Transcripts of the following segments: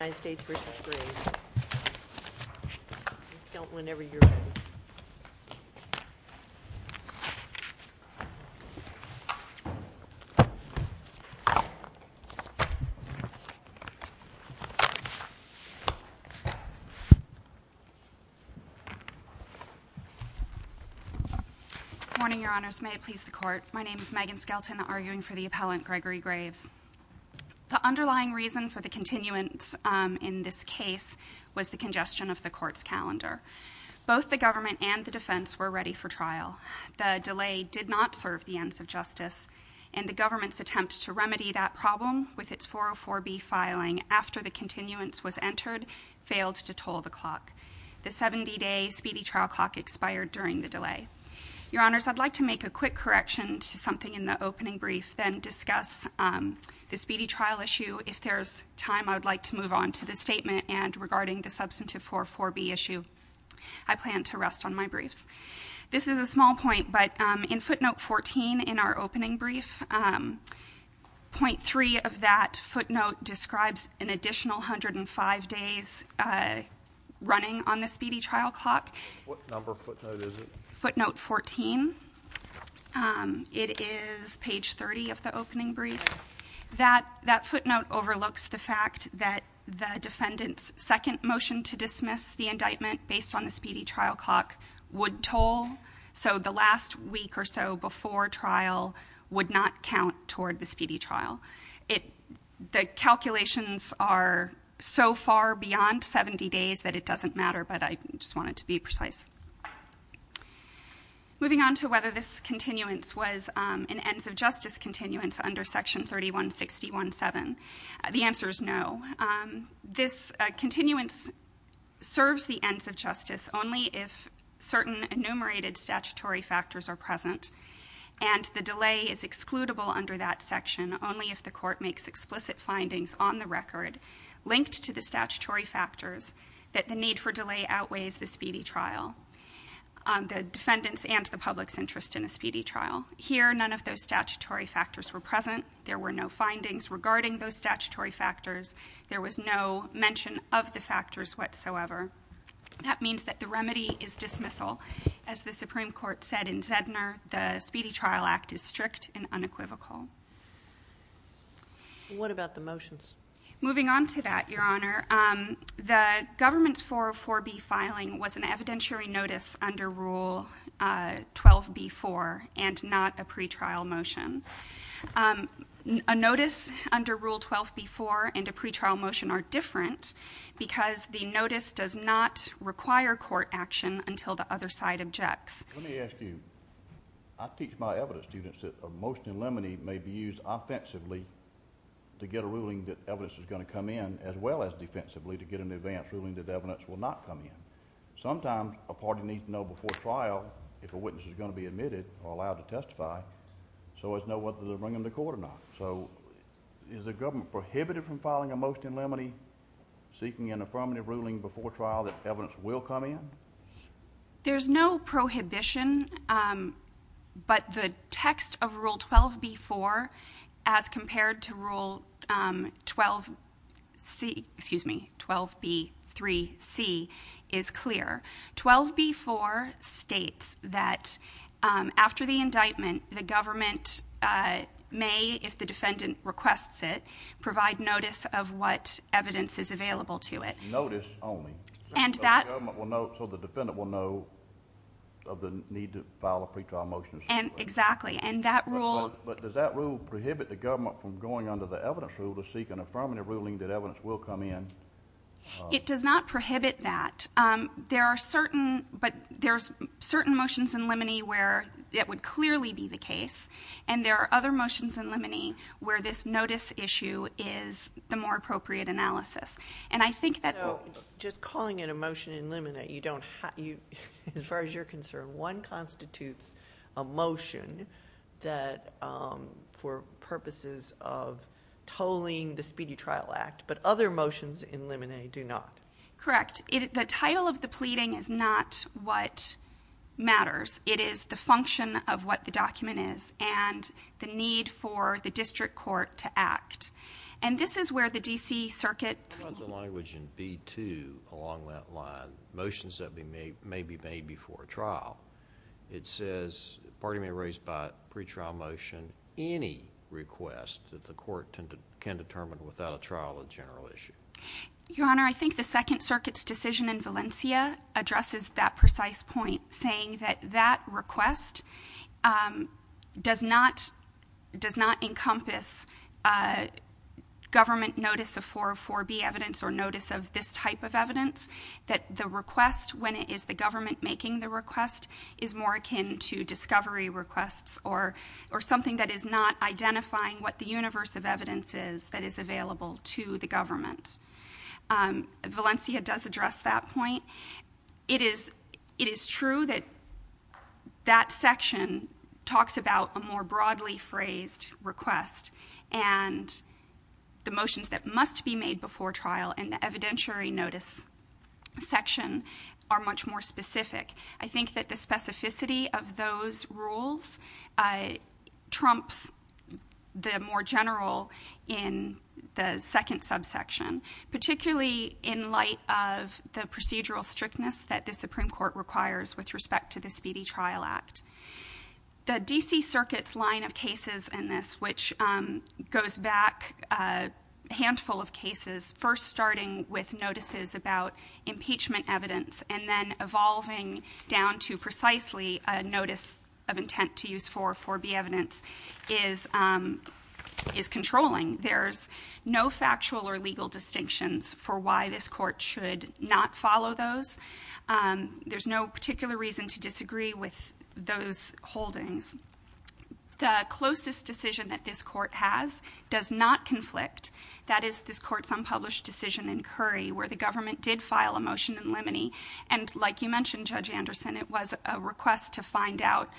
Good morning, Your Honors. May it please the Court. My name is Megan Skelton, arguing for the Appellant Gregory Graves. The underlying reason for the continuance in this case was the congestion of the Court's calendar. Both the government and the defense were ready for trial. The delay did not serve the ends of justice, and the government's attempt to remedy that problem with its 404B filing after the continuance was entered failed to toll the clock. The 70-day speedy trial clock expired during the delay. Your Honors, I'd like to make a quick correction to something in the opening brief, then discuss the speedy trial issue. If there's time, I'd like to move on to the statement and regarding the Substantive 404B issue. I plan to rest on my briefs. This is a small point, but in footnote 14 in our opening brief, point three of that footnote describes an additional 105 days running on footnote 14. It is page 30 of the opening brief. That footnote overlooks the fact that the defendant's second motion to dismiss the indictment based on the speedy trial clock would toll, so the last week or so before trial would not count toward the speedy trial. The calculations are so far beyond 70 days that it doesn't matter, but I just wanted to be precise. Moving on to whether this continuance was an ends of justice continuance under section 3161.7. The answer is no. This continuance serves the ends of justice only if certain enumerated statutory factors are present and the delay is excludable under that section only if the court makes explicit findings on the record linked to the statutory factors that the need for delay outweighs the speedy trial, the defendant's and the public's interest in a speedy trial. Here, none of those statutory factors were present. There were no findings regarding those statutory factors. There was no mention of the factors whatsoever. That means that the remedy is dismissal. As the Supreme Court said in Zedner, the speedy trial act is strict and unequivocal. What about the motions? Moving on to that, Your Honor, the government's 404B filing was an evidentiary notice under Rule 12B.4 and not a pretrial motion. A notice under Rule 12B.4 and a pretrial motion are different because the notice does not require court action until the other side objects. Let me ask you. I teach my evidence students that a motion in limine may be used offensively to get a ruling that evidence is going to come in as well as defensively to get an advance ruling that evidence will not come in. Sometimes a party needs to know before trial if a witness is going to be admitted or allowed to testify so as to know whether to bring them to court or not. So is the government prohibited from filing a motion in limine seeking an affirmative ruling before trial that evidence will come in? There's no prohibition, but the text of Rule 12B.4, as compared to Rule 12B.3.C, is clear. 12B.4 states that after the indictment, the government may, if the defendant requests it, provide notice of what evidence is available to it. Notice only? So the government will know, so the defendant will know of the need to file a pretrial motion in limine. Exactly. And that rule But does that rule prohibit the government from going under the evidence rule to seek an affirmative ruling that evidence will come in? It does not prohibit that. There are certain, but there's certain motions in limine where it would clearly be the case, and there are other motions in limine where this notice issue is the more appropriate analysis. And I think that So just calling it a motion in limine, as far as you're concerned, one constitutes a motion that, for purposes of tolling the Speedy Trial Act, but other motions in limine do not. Correct. The title of the pleading is not what matters. It is the function of what the document is and the need for the district court to act. And this is where the D.C. Circuit What about the language in B.2 along that line, motions that may be made before a trial? It says the party may raise by a pretrial motion any request that the court can determine without a trial a general issue. Your Honor, I think the Second Circuit's decision in Valencia addresses that precise point, saying that that request does not encompass government notice of 404B evidence or notice of this type of evidence, that the request, when it is the government making the request, is more akin to discovery requests or something that is not identifying what the universe of evidence is that is available to the government. Valencia does address that point. It is true that that section talks about a more broadly phrased request, and the motions that must be made before trial in the evidentiary notice section are much more specific. I think that the specificity of those rules trumps the more general in the second subsection, particularly in light of the procedural strictness that the Supreme Court requires with respect to the Speedy Trial Act. The D.C. Circuit's line of cases in this, which goes back a handful of cases, first starting with notices about impeachment evidence and then evolving down to precisely a notice of intent to use 404B evidence, is controlling. There's no factual or legal distinctions for why this Court should not follow those. There's no particular reason to disagree with those holdings. The closest decision that this Court has does not conflict. That is this Court's unpublished decision in Curry, where the government did file a motion in Liminey. And like you mentioned, Judge Anderson, it was a request to find out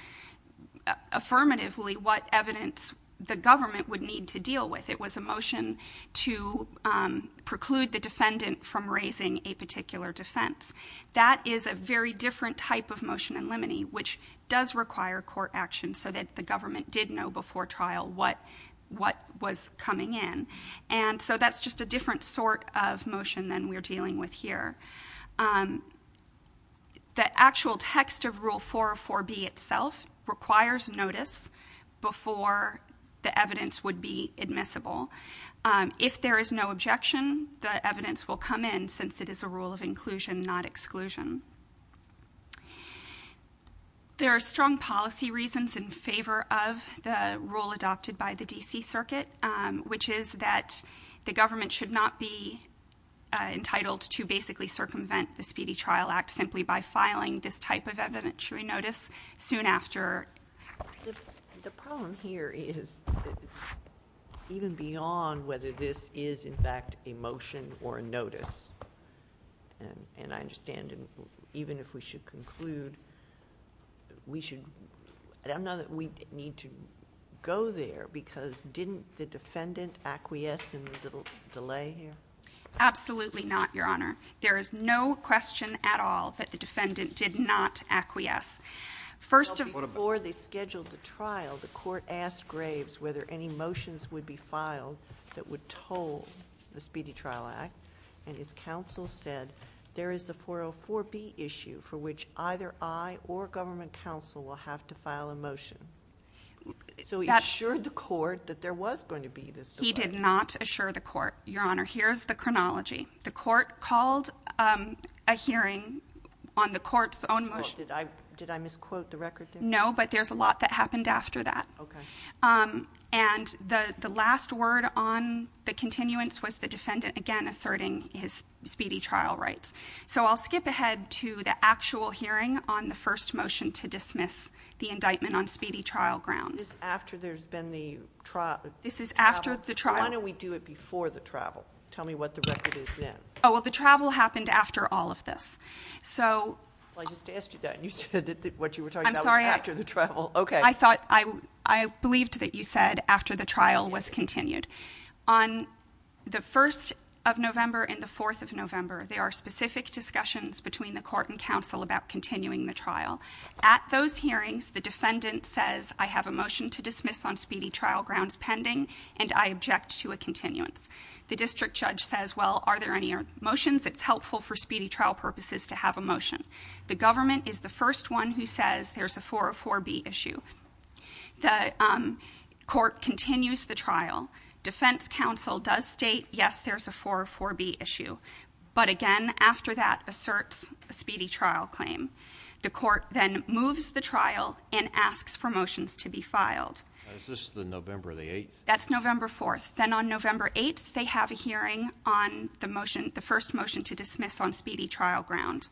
affirmatively what evidence the government would need to deal with. It was a motion to preclude the defendant from raising a particular defense. That is a very different type of motion in Liminey, which does require court action so that the government did know before trial what was coming in. And so that's just a different sort of motion than we're dealing with here. The actual text of Rule 404B itself requires notice before the evidence would be admissible. If there is no objection, the evidence will come in, since it is a rule of inclusion, not exclusion. There are strong policy reasons in favor of the rule adopted by the D.C. Circuit, which is that the government should not be entitled to basically circumvent the Speedy Trial Act simply by filing this type of evidentiary notice soon after. The problem here is that it's even beyond whether this is, in fact, a motion or a notice. And I understand, even if we should conclude, we need to go there, because didn't the defendant acquiesce in the delay here? Absolutely not, Your Honor. There is no question at all that the defendant did not acquiesce. First of all, before they scheduled the trial, the court asked Graves whether any motions would be filed that would toll the Speedy Trial Act. And his counsel said, there is the 404B issue for which either I or government counsel will have to file a motion. So he did not assure the court. Your Honor, here's the chronology. The court called a hearing on the court's own motion Did I misquote the record? No, but there's a lot that happened after that. And the last word on the continuance was the defendant, again, asserting his speedy trial rights. So I'll skip ahead to the actual hearing on the first motion to dismiss the indictment on speedy trial grounds. This is after there's been the trial? This is after the trial. Why don't we do it before the trial? Tell me what the record is then. Oh, well, the travel happened after all of this. I just asked you that, and you said that what you were talking about was after the trial. I'm sorry. I believed that you said after the trial was continued. On the 1st of November and the 4th of November, there are specific discussions between the court and counsel about continuing the trial. At those hearings, the defendant says, I have a motion to dismiss on speedy trial grounds pending, and I object to a continuance. The district judge says, well, are there any motions? It's helpful for speedy trial purposes to have a motion. The government is the first one who says there's a 404B issue. The court continues the trial. Defense counsel does state, yes, there's a 404B issue. But again, after that asserts The court then moves the trial and asks for motions to be filed. Is this the November the 8th? That's November 4th. Then on November 8th, they have a hearing on the motion, the first motion to dismiss on speedy trial grounds.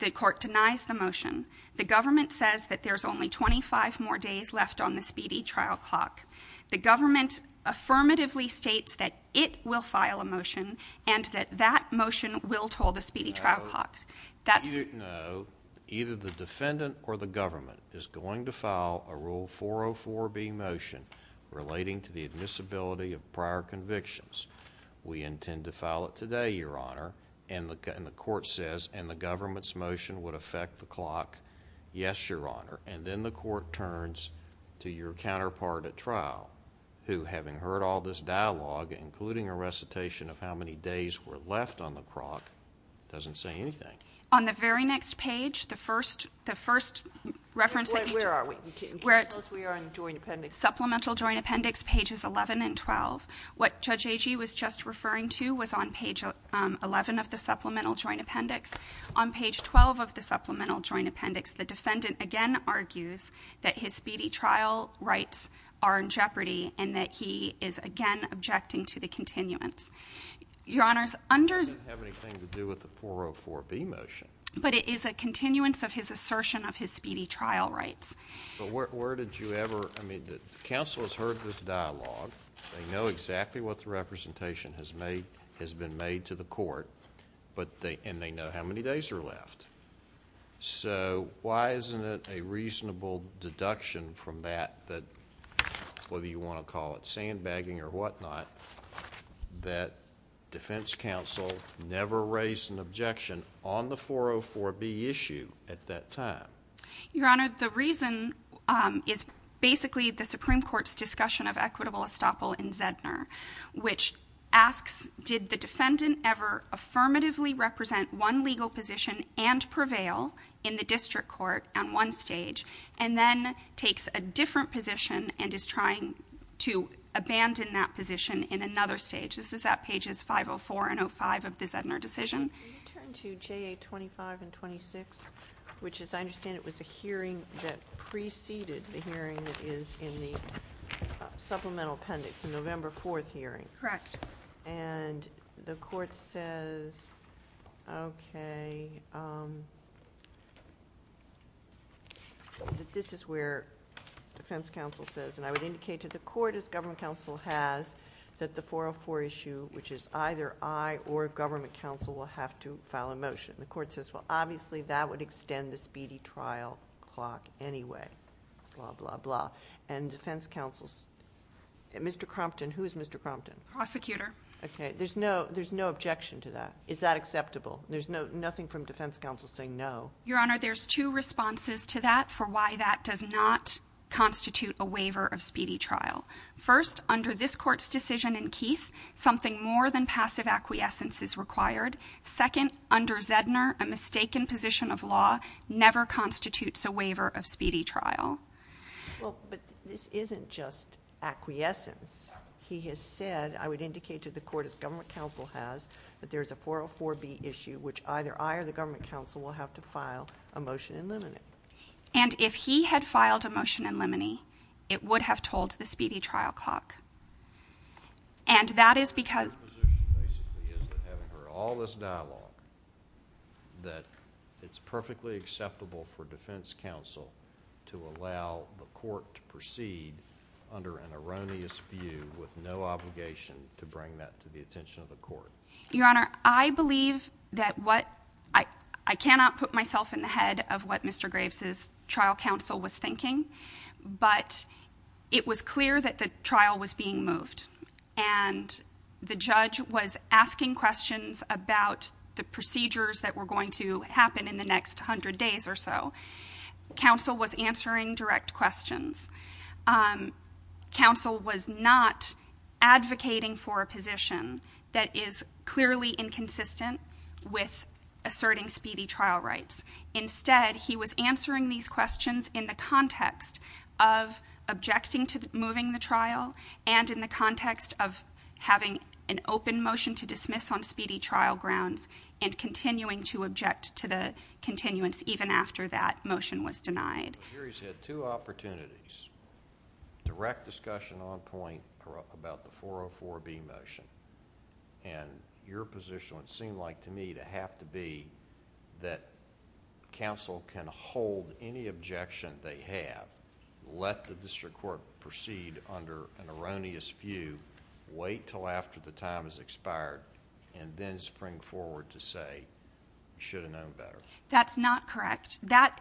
The court denies the motion. The government says that there's only 25 more days left on the speedy trial clock. The government affirmatively states that it will file a motion and that that motion will toll the speedy trial clock. No, either the defendant or the government is going to file a Rule 404B motion relating to the admissibility of prior convictions. We intend to file it today, Your Honor. And the court says, and the government's motion would affect the clock. Yes, Your Honor. And then the court turns to your counterpart at trial, who, having heard all this dialogue, including a recitation of how many days were left on the clock, doesn't say anything. On the very next page, the first reference that you just… Where are we? Can you tell us where we are in the Joint Appendix? Supplemental Joint Appendix, pages 11 and 12. What Judge Agee was just referring to was on page 11 of the Supplemental Joint Appendix. On page 12 of the Supplemental Joint Appendix, the defendant again argues that his speedy trial rights are in jeopardy and that he is, again, objecting to the continuance. Your Honor, under… That doesn't have anything to do with the 404B motion. But it is a continuance of his assertion of his speedy trial rights. But where did you ever… I mean, the counsel has heard this dialogue. They know exactly what the representation has been made to the court, and they know how many days are left. So why isn't it a reasonable deduction from that, whether you want to call it sandbagging or whatnot, that defense counsel never raised an objection on the 404B issue at that time? Your Honor, the reason is basically the Supreme Court's discussion of equitable estoppel in Zedner, which asks, did the defendant ever affirmatively represent one legal position and prevail in the district court on one stage, and then takes a different position and is trying to abandon that position in another stage? This is at pages 504 and 05 of the Zedner decision. Can you turn to JA25 and 26, which, as I understand it, was a hearing that preceded the hearing that is in the supplemental appendix, the November 4th hearing. Correct. And the court says, okay, that this is where defense counsel says, and I would indicate to the court, as government counsel has, that the 404 issue, which is either I or government counsel, will have to file a motion. And the court says, well, obviously that would extend the speedy trial clock anyway. Blah, blah, blah. And defense counsel, Mr. Crompton, who is Mr. Crompton? Prosecutor. Okay. There's no objection to that. Is that acceptable? There's nothing from defense counsel saying no. Your Honor, there's two responses to that for why that does not constitute a waiver of speedy trial. First, under this court's decision in Keith, something more than passive acquiescence is required. Second, under Zedner, a mistaken position of law never constitutes a waiver of speedy trial. Well, but this isn't just acquiescence. He has said, I would indicate to the court, as government counsel has, that there's a 404B issue, which either I or the government counsel will have to file a motion in limine. And if he had filed a motion in limine, it would have told the speedy trial clock. And that is because... My position, basically, is that having heard all this dialogue, that it's perfectly acceptable for defense counsel to allow the court to proceed under an erroneous view with no obligation to bring that to the attention of the court. Your Honor, I believe that what... I cannot put myself in the head of what Mr. Graves' trial counsel was thinking, but it was clear that the trial was being moved. And the judge was asking questions about the procedures that were going to happen in the next 100 days or so. Counsel was answering direct questions. Counsel was not advocating for a position that is clearly inconsistent with asserting speedy trial rights. Instead, he was answering these questions in the context of objecting to moving the trial and in the context of having an open motion to dismiss on speedy trial grounds and continuing to object to the continuance even after that motion was denied. Here he's had two opportunities. Direct discussion on point about the 404B motion. And your position would seem like to me to have to be that counsel can hold any objection they have, let the district court proceed under an erroneous view, wait until after the time has expired, and then spring forward to say, you should have known better. That's not correct. That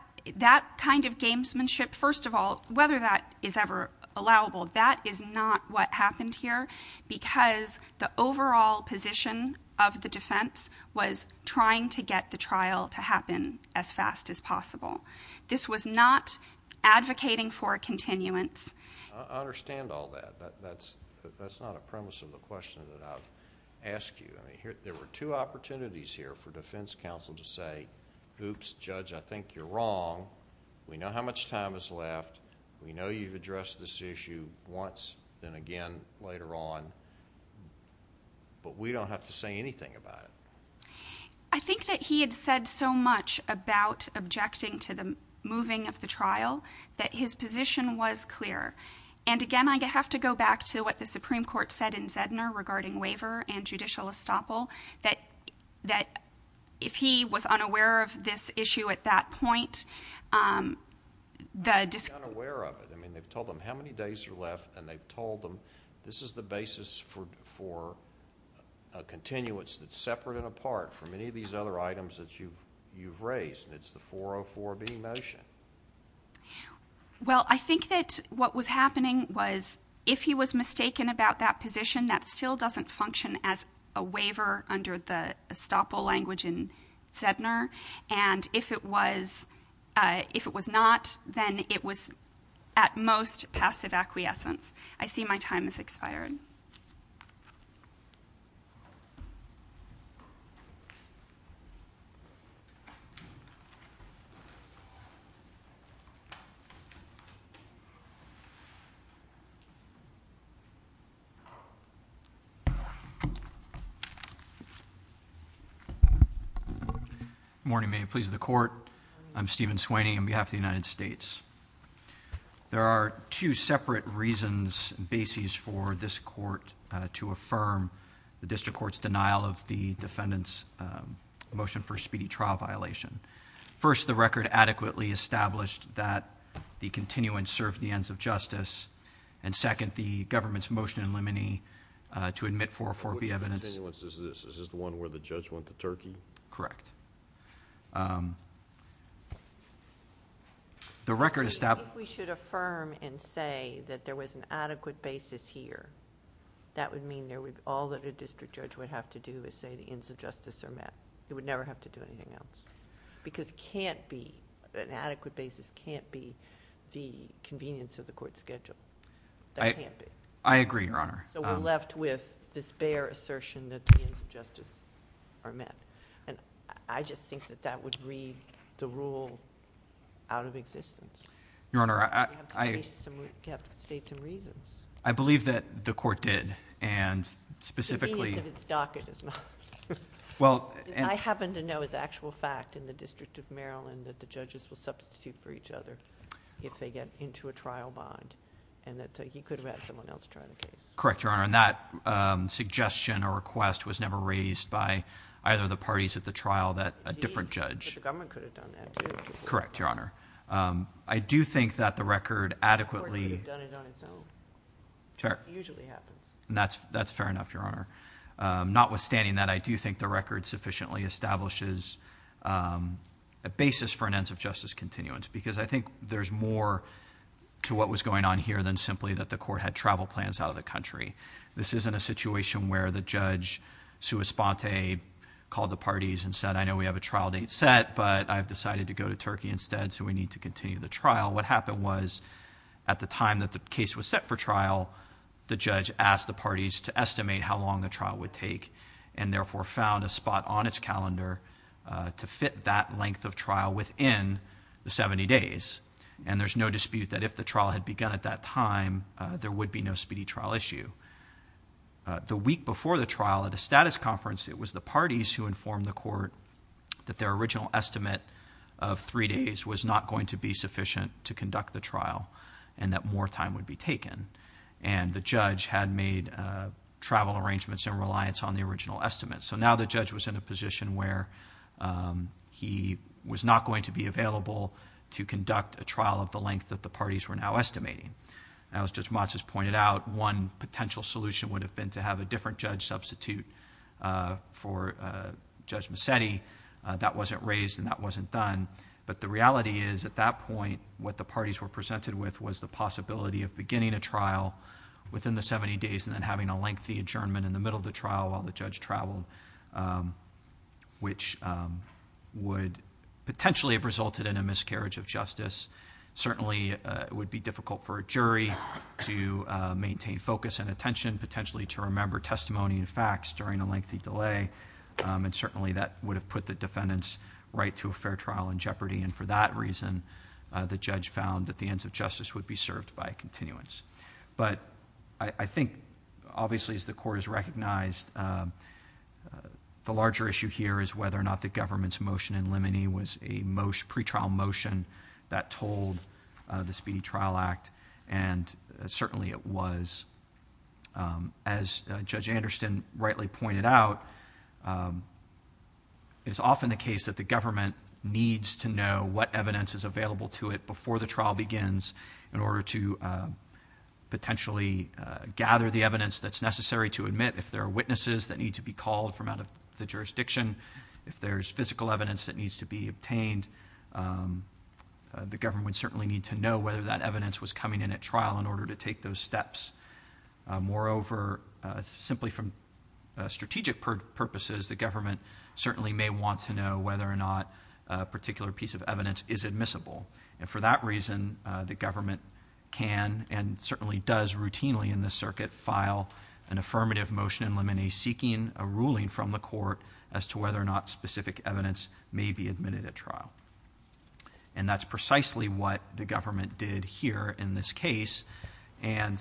kind of gamesmanship, first of all, whether that is ever allowable, that is not what happened here because the overall position of the defense was trying to get the trial to happen as fast as possible. This was not advocating for a continuance. I understand all that. That's not a premise of the question that I've asked you. There were two opportunities here for defense counsel to say, oops, judge, I think you're wrong. We know how much time is left. We know you've addressed this issue once and again later on. But we don't have to say anything about it. I think that he had said so much about objecting to the moving of the trial that his position was clear. And, again, I have to go back to what the Supreme Court said in Zedner regarding waiver and judicial estoppel, that if he was unaware of this issue at that point, the dis- Unaware of it. I mean, they've told them how many days are left, and they've told them this is the basis for a continuance that's separate and apart from any of these other items that you've raised, and it's the 404B motion. Well, I think that what was happening was if he was mistaken about that position, that still doesn't function as a waiver under the estoppel language in Zedner. And if it was not, then it was at most passive acquiescence. I see my time has expired. Good morning. May it please the court. I'm Stephen Sweeney on behalf of the United States. There are two separate reasons and bases for this court to affirm the district court's denial of the defendant's motion for speedy trial violation. First, the record adequately established that the continuance served the ends of justice. And second, the government's motion in limine to admit 404B evidence- Which continuance is this? Is this the one where the judge went to Turkey? Correct. The record established- If we should affirm and say that there was an adequate basis here, that would mean all that a district judge would have to do is say the ends of justice are met. He would never have to do anything else. Because it can't be, an adequate basis can't be the convenience of the court's schedule. That can't be. I agree, Your Honor. So we're left with this bare assertion that the ends of justice are met. And I just think that that would read the rule out of existence. Your Honor, I- You have to state some reasons. I believe that the court did, and specifically- The convenience of its docket is not. I happen to know as actual fact in the District of Maryland that the judges will substitute for each other if they get into a trial bond. And that he could have had someone else try the case. Correct, Your Honor. And that suggestion or request was never raised by either of the parties at the trial that a different judge- The government could have done that, too. Correct, Your Honor. I do think that the record adequately- The court could have done it on its own. Sure. It usually happens. That's fair enough, Your Honor. Notwithstanding that, I do think the record sufficiently establishes a basis for an ends of justice continuance. Because I think there's more to what was going on here than simply that the court had travel plans out of the country. This isn't a situation where the judge, sua sponte, called the parties and said, I know we have a trial date set, but I've decided to go to Turkey instead, so we need to continue the trial. What happened was, at the time that the case was set for trial, the judge asked the parties to estimate how long the trial would take. And therefore found a spot on its calendar to fit that length of trial within the 70 days. And there's no dispute that if the trial had begun at that time, there would be no speedy trial issue. The week before the trial, at a status conference, it was the parties who informed the court that their original estimate of three days was not going to be sufficient to conduct the trial, and that more time would be taken. And the judge had made travel arrangements in reliance on the original estimate. So now the judge was in a position where he was not going to be available to conduct a trial of the length that the parties were now estimating. Now, as Judge Mats has pointed out, one potential solution would have been to have a different judge substitute for Judge Massetti. That wasn't raised and that wasn't done. But the reality is, at that point, what the parties were presented with was the possibility of beginning a trial within the 70 days and then having a lengthy adjournment in the middle of the trial while the judge traveled, which would potentially have resulted in a miscarriage of justice. Certainly, it would be difficult for a jury to maintain focus and attention, potentially to remember testimony and facts during a lengthy delay. And certainly, that would have put the defendant's right to a fair trial in jeopardy. And for that reason, the judge found that the ends of justice would be served by a continuance. But I think, obviously, as the court has recognized, the larger issue here is whether or not the government's motion in limine was a pre-trial motion that told the Speedy Trial Act. And certainly, it was. As Judge Anderson rightly pointed out, it's often the case that the government needs to know what evidence is available to it before the trial begins in order to potentially gather the evidence that's necessary to admit. If there are witnesses that need to be called from out of the jurisdiction, if there's physical evidence that needs to be obtained, the government would certainly need to know whether that evidence was coming in at trial in order to take those steps. Moreover, simply from strategic purposes, the government certainly may want to know whether or not a particular piece of evidence is admissible. And for that reason, the government can and certainly does routinely in the circuit file an affirmative motion in limine seeking a ruling from the court as to whether or not specific evidence may be admitted at trial. And that's precisely what the government did here in this case. And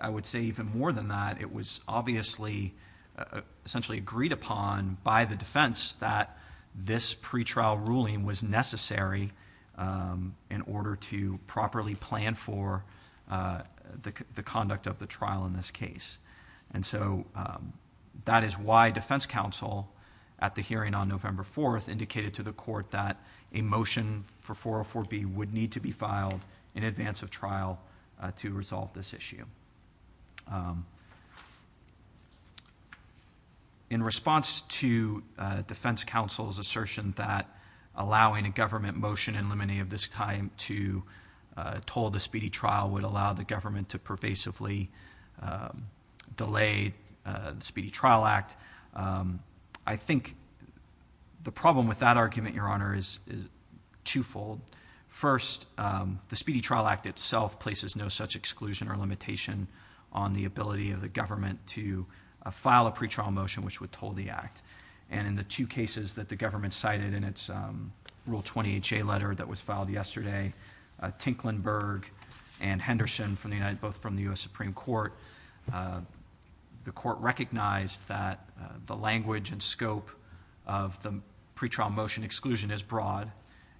I would say even more than that, it was obviously essentially agreed upon by the defense that this pre-trial ruling was necessary in order to properly plan for the conduct of the trial in this case. And so that is why defense counsel, at the hearing on November 4th, indicated to the court that a motion for 404B would need to be filed in advance of trial to resolve this issue. In response to defense counsel's assertion that allowing a government motion in limine of this time to toll the speedy trial would allow the government to pervasively delay the Speedy Trial Act, I think the problem with that argument, Your Honor, is twofold. First, the Speedy Trial Act itself places no such exclusion or limitation on the ability of the government to file a pre-trial motion which would toll the act. And in the two cases that the government cited in its Rule 20HA letter that was filed yesterday, Tinklenberg and Henderson, both from the U.S. Supreme Court, the court recognized that the language and scope of the pre-trial motion exclusion is broad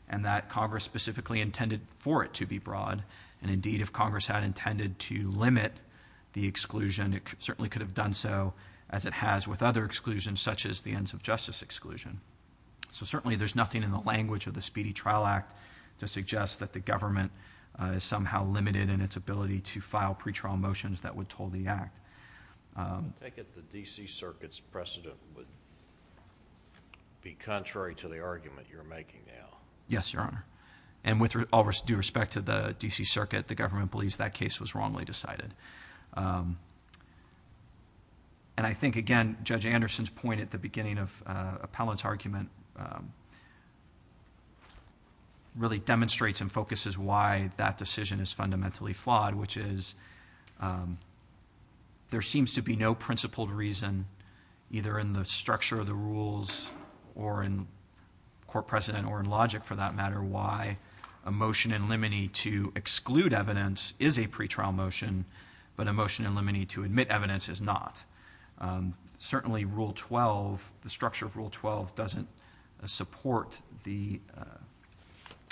and that Congress specifically intended for it to be broad. And indeed, if Congress had intended to limit the exclusion, it certainly could have done so as it has with other exclusions such as the ends of justice exclusion. So certainly there's nothing in the language of the Speedy Trial Act to suggest that the government is somehow limited in its ability to file pre-trial motions that would toll the act. I take it the D.C. Circuit's precedent would be contrary to the argument you're making now. Yes, Your Honor. And with all due respect to the D.C. Circuit, the government believes that case was wrongly decided. And I think, again, Judge Anderson's point at the beginning of Appellant's argument really demonstrates and focuses why that decision is fundamentally flawed, which is there seems to be no principled reason either in the structure of the rules or in court precedent or in logic for that matter why a motion in limine to exclude evidence is a pre-trial motion but a motion in limine to admit evidence is not. Certainly Rule 12, the structure of Rule 12 doesn't support the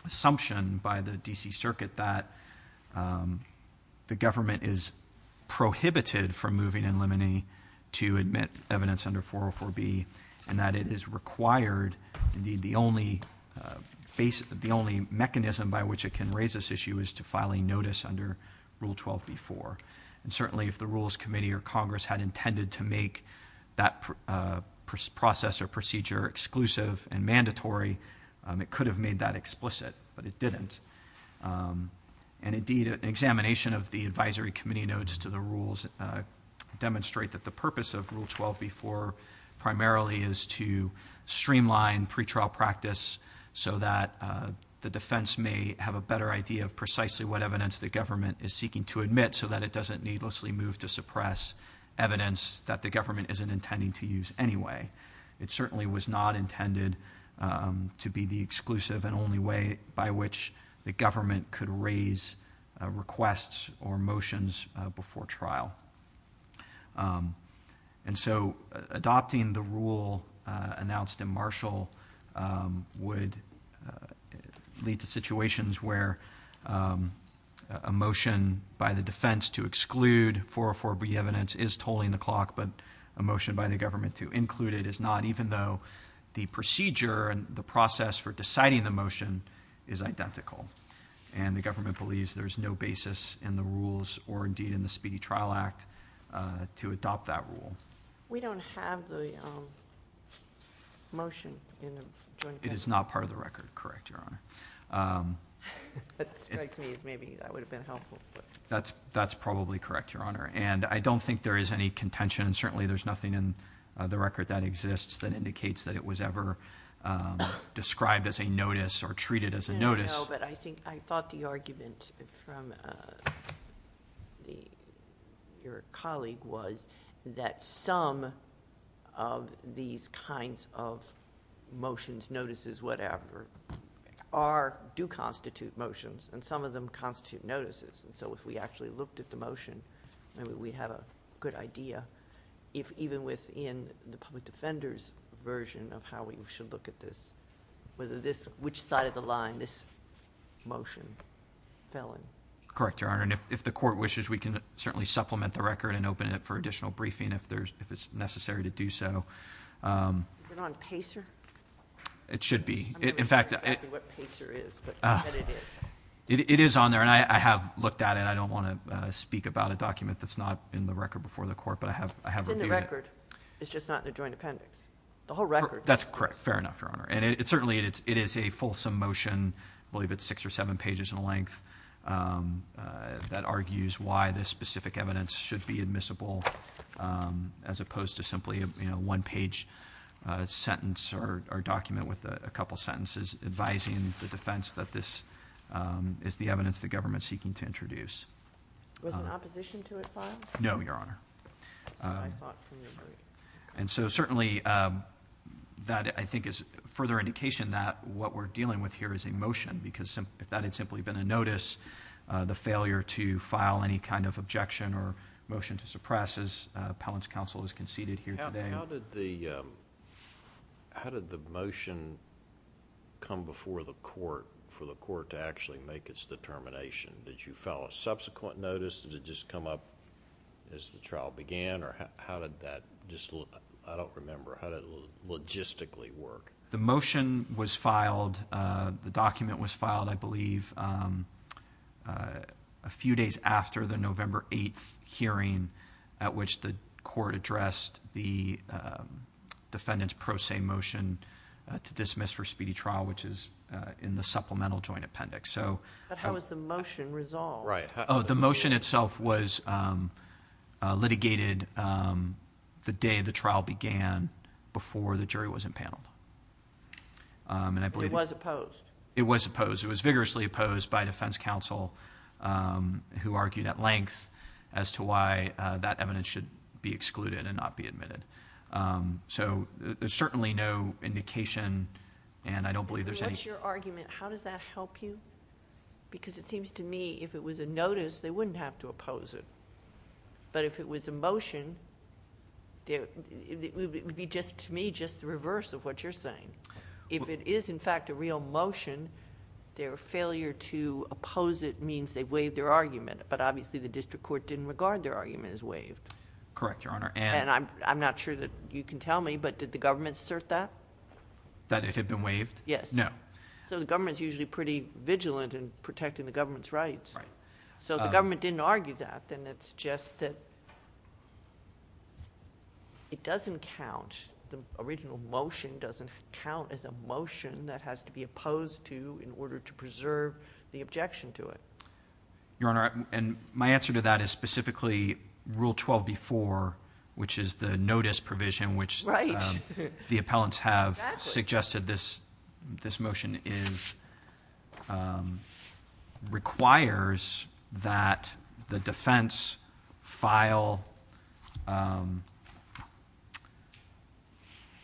assumption by the D.C. Circuit that the government is prohibited from moving in limine to admit evidence under 404B and that it is required, indeed the only mechanism by which it can raise this issue is to file a notice under Rule 12B4. And certainly if the Rules Committee or Congress had intended to make that process or procedure exclusive and mandatory, it could have made that explicit, but it didn't. And indeed an examination of the Advisory Committee notes to the rules demonstrate that the purpose of Rule 12B4 primarily is to streamline pre-trial practice so that the defense may have a better idea of precisely what evidence the government is seeking to admit so that it doesn't needlessly move to suppress evidence that the government isn't intending to use anyway. It certainly was not intended to be the exclusive and only way by which the government could raise requests or motions before trial. And so adopting the rule announced in Marshall would lead to situations where a motion by the defense to exclude 404B evidence is tolling the clock, but a motion by the government to include it is not, even though the procedure and the process for deciding the motion is identical. And the government believes there's no basis in the rules or indeed in the Speedy Trial Act to adopt that rule. We don't have the motion in the Joint Committee. It is not part of the record, correct, Your Honor. That strikes me as maybe that would have been helpful. That's probably correct, Your Honor. And I don't think there is any contention, and certainly there's nothing in the record that exists that indicates that it was ever described as a notice or treated as a notice. No, but I thought the argument from your colleague was that some of these kinds of motions, notices, whatever, do constitute motions, and some of them constitute notices. And so if we actually looked at the motion, maybe we'd have a good idea, if even within the public defender's version of how we should look at this, which side of the line this motion fell in. Correct, Your Honor. And if the court wishes, we can certainly supplement the record and open it up for additional briefing if it's necessary to do so. Is it on PACER? It should be. I'm not sure exactly what PACER is, but I bet it is. It is on there, and I have looked at it. I don't want to speak about a document that's not in the record before the court, but I have reviewed it. It's in the record. It's just not in the joint appendix. The whole record. That's correct. Fair enough, Your Honor. And certainly it is a fulsome motion, I believe it's six or seven pages in length, that argues why this specific evidence should be admissible as opposed to simply a one-page sentence or document with a couple sentences advising the defense that this is the evidence the government is seeking to introduce. Was there an opposition to it filed? No, Your Honor. I thought we agreed. Certainly, that I think is further indication that what we're dealing with here is a motion, because if that had simply been a notice, the failure to file any kind of objection or motion to suppress, as appellant's counsel has conceded here today... How did the motion come before the court for the court to actually make its determination? Did you file a subsequent notice? Did it just come up as the trial began? Or how did that just, I don't remember, how did it logistically work? The motion was filed. The document was filed, I believe, a few days after the November 8th hearing at which the court addressed the defendant's pro se motion to dismiss for speedy trial, which is in the supplemental joint appendix. But how is the motion resolved? Oh, the motion itself was litigated the day the trial began, before the jury was impaneled. It was opposed? It was opposed. It was vigorously opposed by defense counsel, who argued at length as to why that evidence should be excluded and not be admitted. So, there's certainly no indication, and I don't believe there's any... What's your argument? How does that help you? Because it seems to me, if it was a notice, they wouldn't have to oppose it. But if it was a motion, it would be, to me, just the reverse of what you're saying. If it is, in fact, a real motion, their failure to oppose it means they've waived their argument. But obviously, the district court didn't regard their argument as waived. Correct, Your Honor. And I'm not sure that you can tell me, but did the government assert that? That it had been waived? Yes. No. So, the government's usually pretty vigilant in protecting the government's rights. Right. So, if the government didn't argue that, then it's just that it doesn't count. The original motion doesn't count as a motion that has to be opposed to in order to preserve the objection to it. Your Honor, and my answer to that is specifically Rule 12b-4, which is the notice provision... Right.... that the appellants have suggested this motion is... requires that the defense file...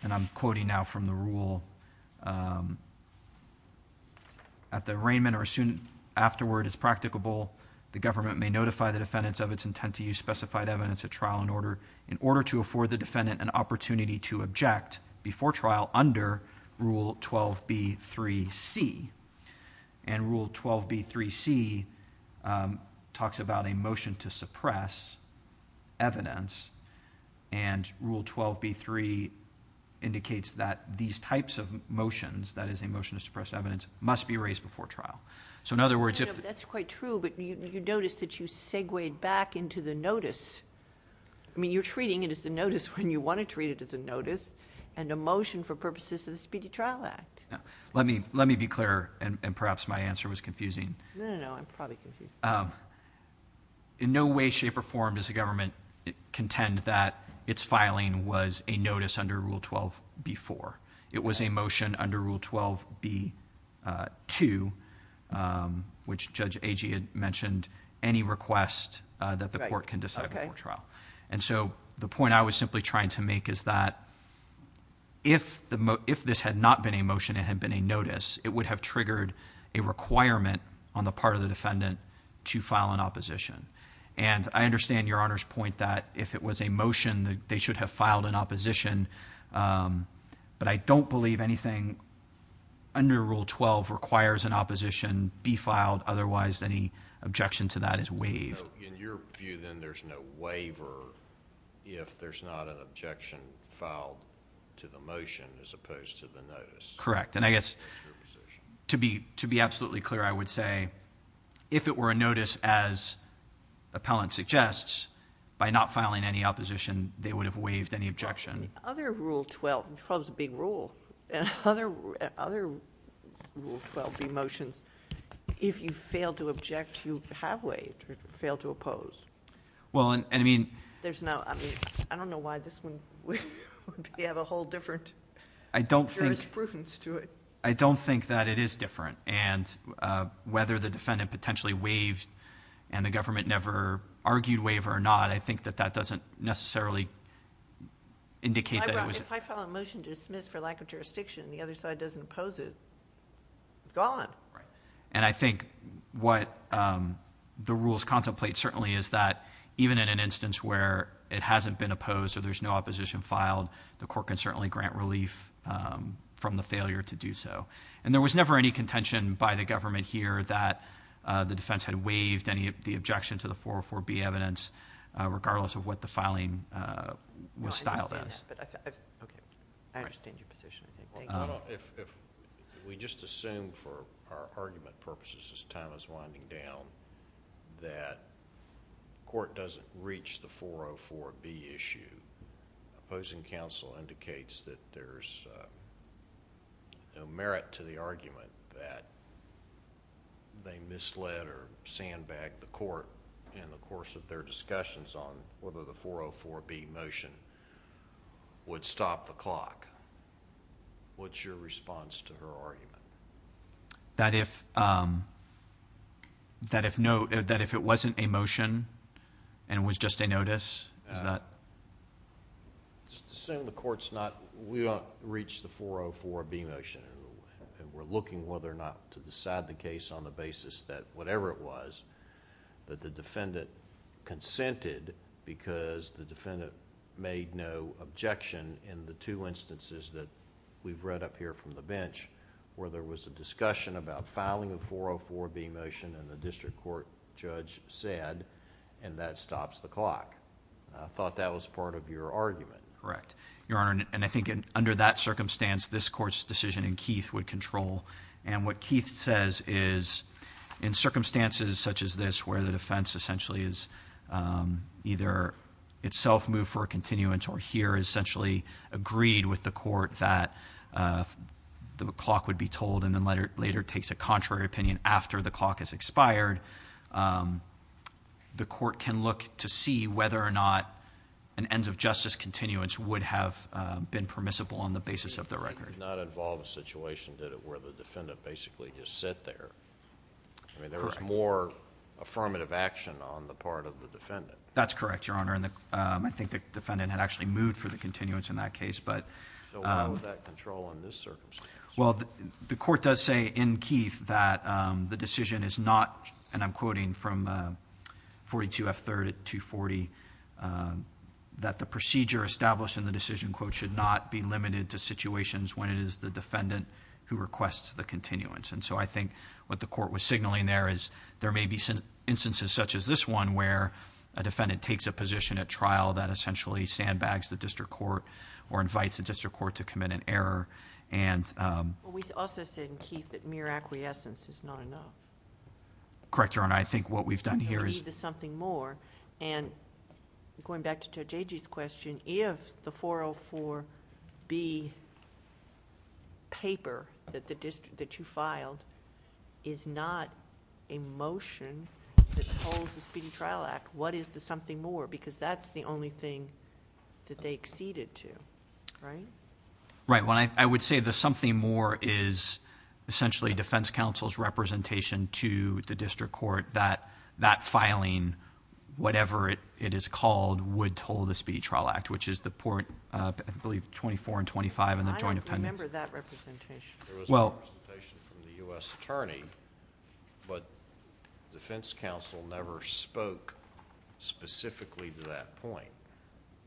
and I'm quoting now from the rule... at the arraignment or soon afterward, as practicable, the government may notify the defendants of its intent to use specified evidence at trial and order, to afford the defendant an opportunity to object before trial under Rule 12b-3c. And Rule 12b-3c talks about a motion to suppress evidence. And Rule 12b-3 indicates that these types of motions, that is a motion to suppress evidence, must be raised before trial. So, in other words, if... That's quite true, but you notice that you segued back into the notice. I mean, you're treating it as a notice when you want to treat it as a notice and a motion for purposes of the Speedy Trial Act. Let me be clear, and perhaps my answer was confusing. No, no, no. I'm probably confusing. In no way, shape, or form does the government contend that its filing was a notice under Rule 12b-4. It was a motion under Rule 12b-2, which Judge Agee had mentioned, any request that the court can decide... Okay.... before trial. And so, the point I was simply trying to make is that if this had not been a motion, it had been a notice, it would have triggered a requirement on the part of the defendant to file an opposition. And I understand Your Honor's point that if it was a motion, they should have filed an opposition. But I don't believe anything under Rule 12 requires an opposition be filed. Otherwise, any objection to that is waived. In your view, then, there's no waiver if there's not an objection filed to the motion as opposed to the notice. Correct. And I guess to be absolutely clear, I would say if it were a notice as appellant suggests, by not filing any opposition, they would have waived any objection. Other Rule 12... 12 is a big rule. Other Rule 12b motions, if you fail to object, you have waived or fail to oppose. Well, I mean... There's no... I mean, I don't know why this one would have a whole different jurisprudence to it. I don't think that it is different. And whether the defendant potentially waived and the government never argued waiver or not, I think that that doesn't necessarily indicate that it was... If I file a motion to dismiss for lack of jurisdiction and the other side doesn't oppose it, it's gone. Right. And I think what the rules contemplate certainly is that even in an instance where it hasn't been opposed or there's no opposition filed, the court can certainly grant relief from the failure to do so. And there was never any contention by the government here that the defense had waived any of the objections to the 404b evidence, regardless of what the filing was styled as. I understand that, but I... Okay. I understand your position. Thank you. If we just assume for our argument purposes, as time is winding down, that court doesn't reach the 404b issue, opposing counsel indicates that there's no merit to the argument that they misled or sandbagged the court in the course of their discussions on whether the 404b motion would stop the clock. What's your response to her argument? That if no... that if it wasn't a motion and it was just a notice, is that... Assume the court's not... we don't reach the 404b motion and we're looking whether or not to decide the case on the basis that whatever it was that the defendant consented because the defendant made no objection in the two instances that we've read up here from the bench, where there was a discussion about filing a 404b motion and the district court judge said, and that stops the clock. I thought that was part of your argument. Correct. Your Honor, and I think under that circumstance, this court's decision in Keith would control. What Keith says is, in circumstances such as this, where the defense essentially is either itself moved for a continuance or here essentially agreed with the court that the clock would be told and then later takes a contrary opinion after the clock has expired, the court can look to see whether or not an ends of justice continuance would have been permissible on the basis of the record. It did not involve a situation, did it, where the defendant basically just sat there? Correct. I mean, there was more affirmative action on the part of the defendant. That's correct, Your Honor, and I think the defendant had actually moved for the continuance in that case. So why would that control on this circumstance? Well, the court does say in Keith that the decision is not, and I'm quoting from 42F3rd at 240, that the procedure established in the decision quote should not be limited to situations when it is the defendant who requests the continuance. And so I think what the court was signaling there is there may be instances such as this one where a defendant takes a position at trial that essentially sandbags the district court or invites the district court to commit an error and... Well, we also said in Keith that mere acquiescence is not enough. Correct, Your Honor. I think what we've done here is... is not a motion that told the Speedy Trial Act what is the something more, because that's the only thing that they acceded to, right? Right. I would say the something more is essentially defense counsel's representation to the district court that that filing, whatever it is called, would toll the Speedy Trial Act, which is the point, I believe, 24 and 25 in the Joint Appendix. I don't remember that representation. There was a representation from the U.S. attorney, but defense counsel never spoke specifically to that point.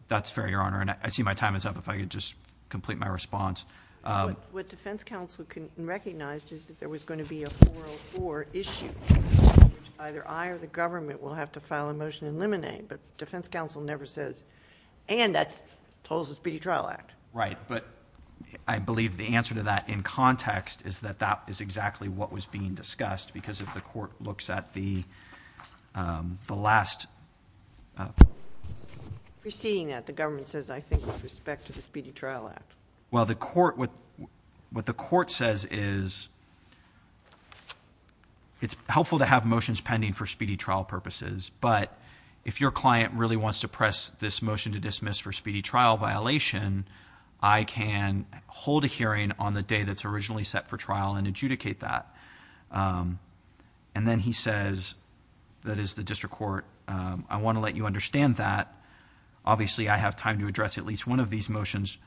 That's fair, Your Honor, and I see my time is up. If I could just complete my response. What defense counsel recognized is that there was going to be a 404 issue, which either I or the government will have to file a motion and eliminate, but defense counsel never says, and that tolls the Speedy Trial Act. Right, but I believe the answer to that in context is that that is exactly what was being discussed because if the court looks at the last... Proceeding that, the government says, I think, with respect to the Speedy Trial Act. Well, what the court says is it's helpful to have motions pending for Speedy Trial purposes, but if your client really wants to press this motion to dismiss for Speedy Trial violation, I can hold a hearing on the day that's originally set for trial and adjudicate that. And then he says, that is the district court, I want to let you understand that. Obviously, I have time to address at least one of these motions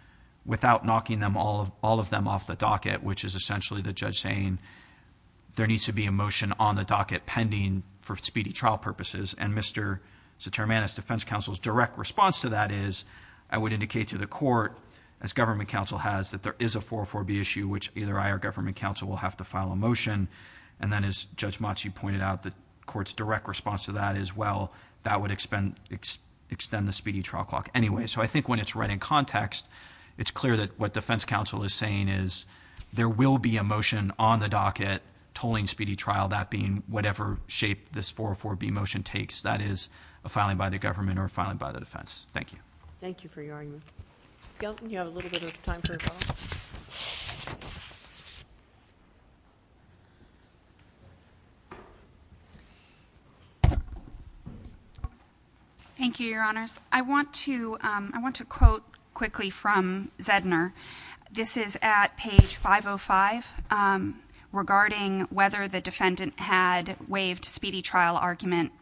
without knocking all of them off the docket, which is essentially the judge saying there needs to be a motion on the docket pending for Speedy Trial purposes. And Mr. Sotermanis, defense counsel's direct response to that is, I would indicate to the court, as government counsel has, that there is a 404B issue, which either I or government counsel will have to file a motion. And then as Judge Matsui pointed out, the court's direct response to that is, well, that would extend the Speedy Trial Clock anyway. So I think when it's right in context, it's clear that what defense counsel is saying is, there will be a motion on the docket tolling Speedy Trial, that being whatever shape this 404B motion takes. That is a filing by the government or a filing by the defense. Thank you for your argument. Skelton, you have a little bit of time for a follow-up? Thank you, Your Honors. I want to quote quickly from Zedner. This is at page 505, regarding whether the defendant had waived Speedy Trial argument.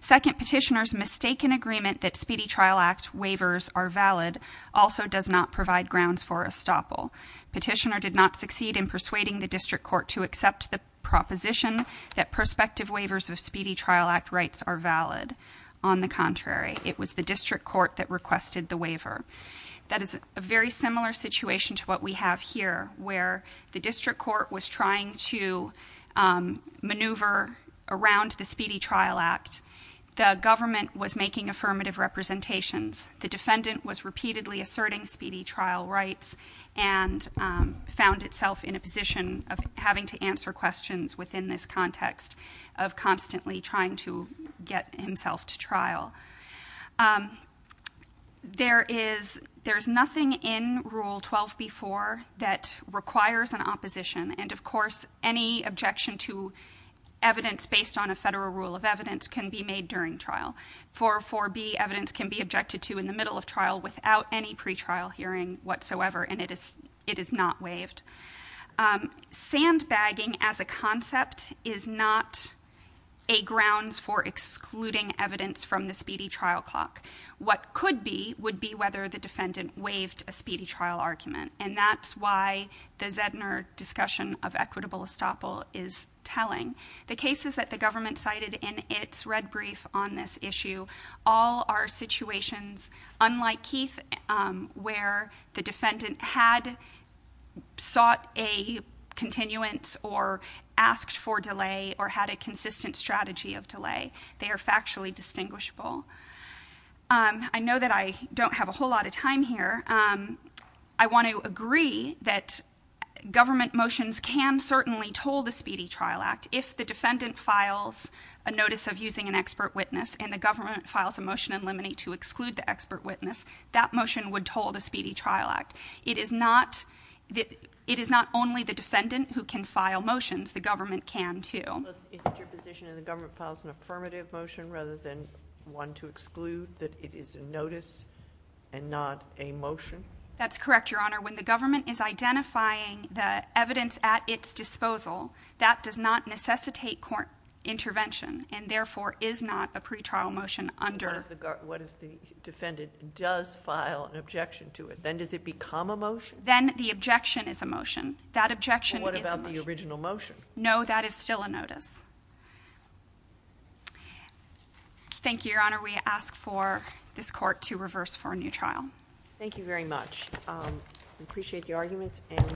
Second, Petitioner's mistaken agreement that Speedy Trial Act waivers are valid also does not provide grounds for estoppel. Petitioner did not succeed in persuading the district court to accept the proposition that prospective waivers of Speedy Trial Act rights are valid. On the contrary, it was the district court that requested the waiver. That is a very similar situation to what we have here, where the district court was trying to maneuver around the Speedy Trial Act. The government was making affirmative representations. The defendant was repeatedly asserting Speedy Trial rights and found itself in a position of having to answer questions within this context of constantly trying to get himself to trial. There is nothing in Rule 12b.4 that requires an opposition. Of course, any objection to evidence based on a federal rule of evidence can be made during trial. 404b evidence can be objected to in the middle of trial without any pretrial hearing whatsoever, and it is not waived. Sandbagging as a concept is not a grounds for excluding evidence from the Speedy Trial Clock. What could be would be whether the defendant waived a Speedy Trial argument, and that's why the Zedner discussion of equitable estoppel is telling. The cases that the government cited in its red brief on this issue all are situations, unlike Keith, where the defendant had sought a continuance or asked for delay or had a consistent strategy of delay. They are factually distinguishable. I know that I don't have a whole lot of time here. I want to agree that government motions can certainly toll the Speedy Trial Act if the defendant files a notice of using an expert witness and the government files a motion in limine to exclude the expert witness, that motion would toll the Speedy Trial Act. It is not only the defendant who can file motions. The government can, too. But isn't your position that the government files an affirmative motion rather than one to exclude, that it is a notice and not a motion? That's correct, Your Honor. When the government is identifying the evidence at its disposal, that does not necessitate court intervention and therefore is not a pretrial motion under... What if the defendant does file an objection to it? Then does it become a motion? Then the objection is a motion. That objection is a motion. What about the original motion? No, that is still a notice. Thank you, Your Honor. We ask for this court to reverse for a new trial. Thank you very much. We appreciate the arguments.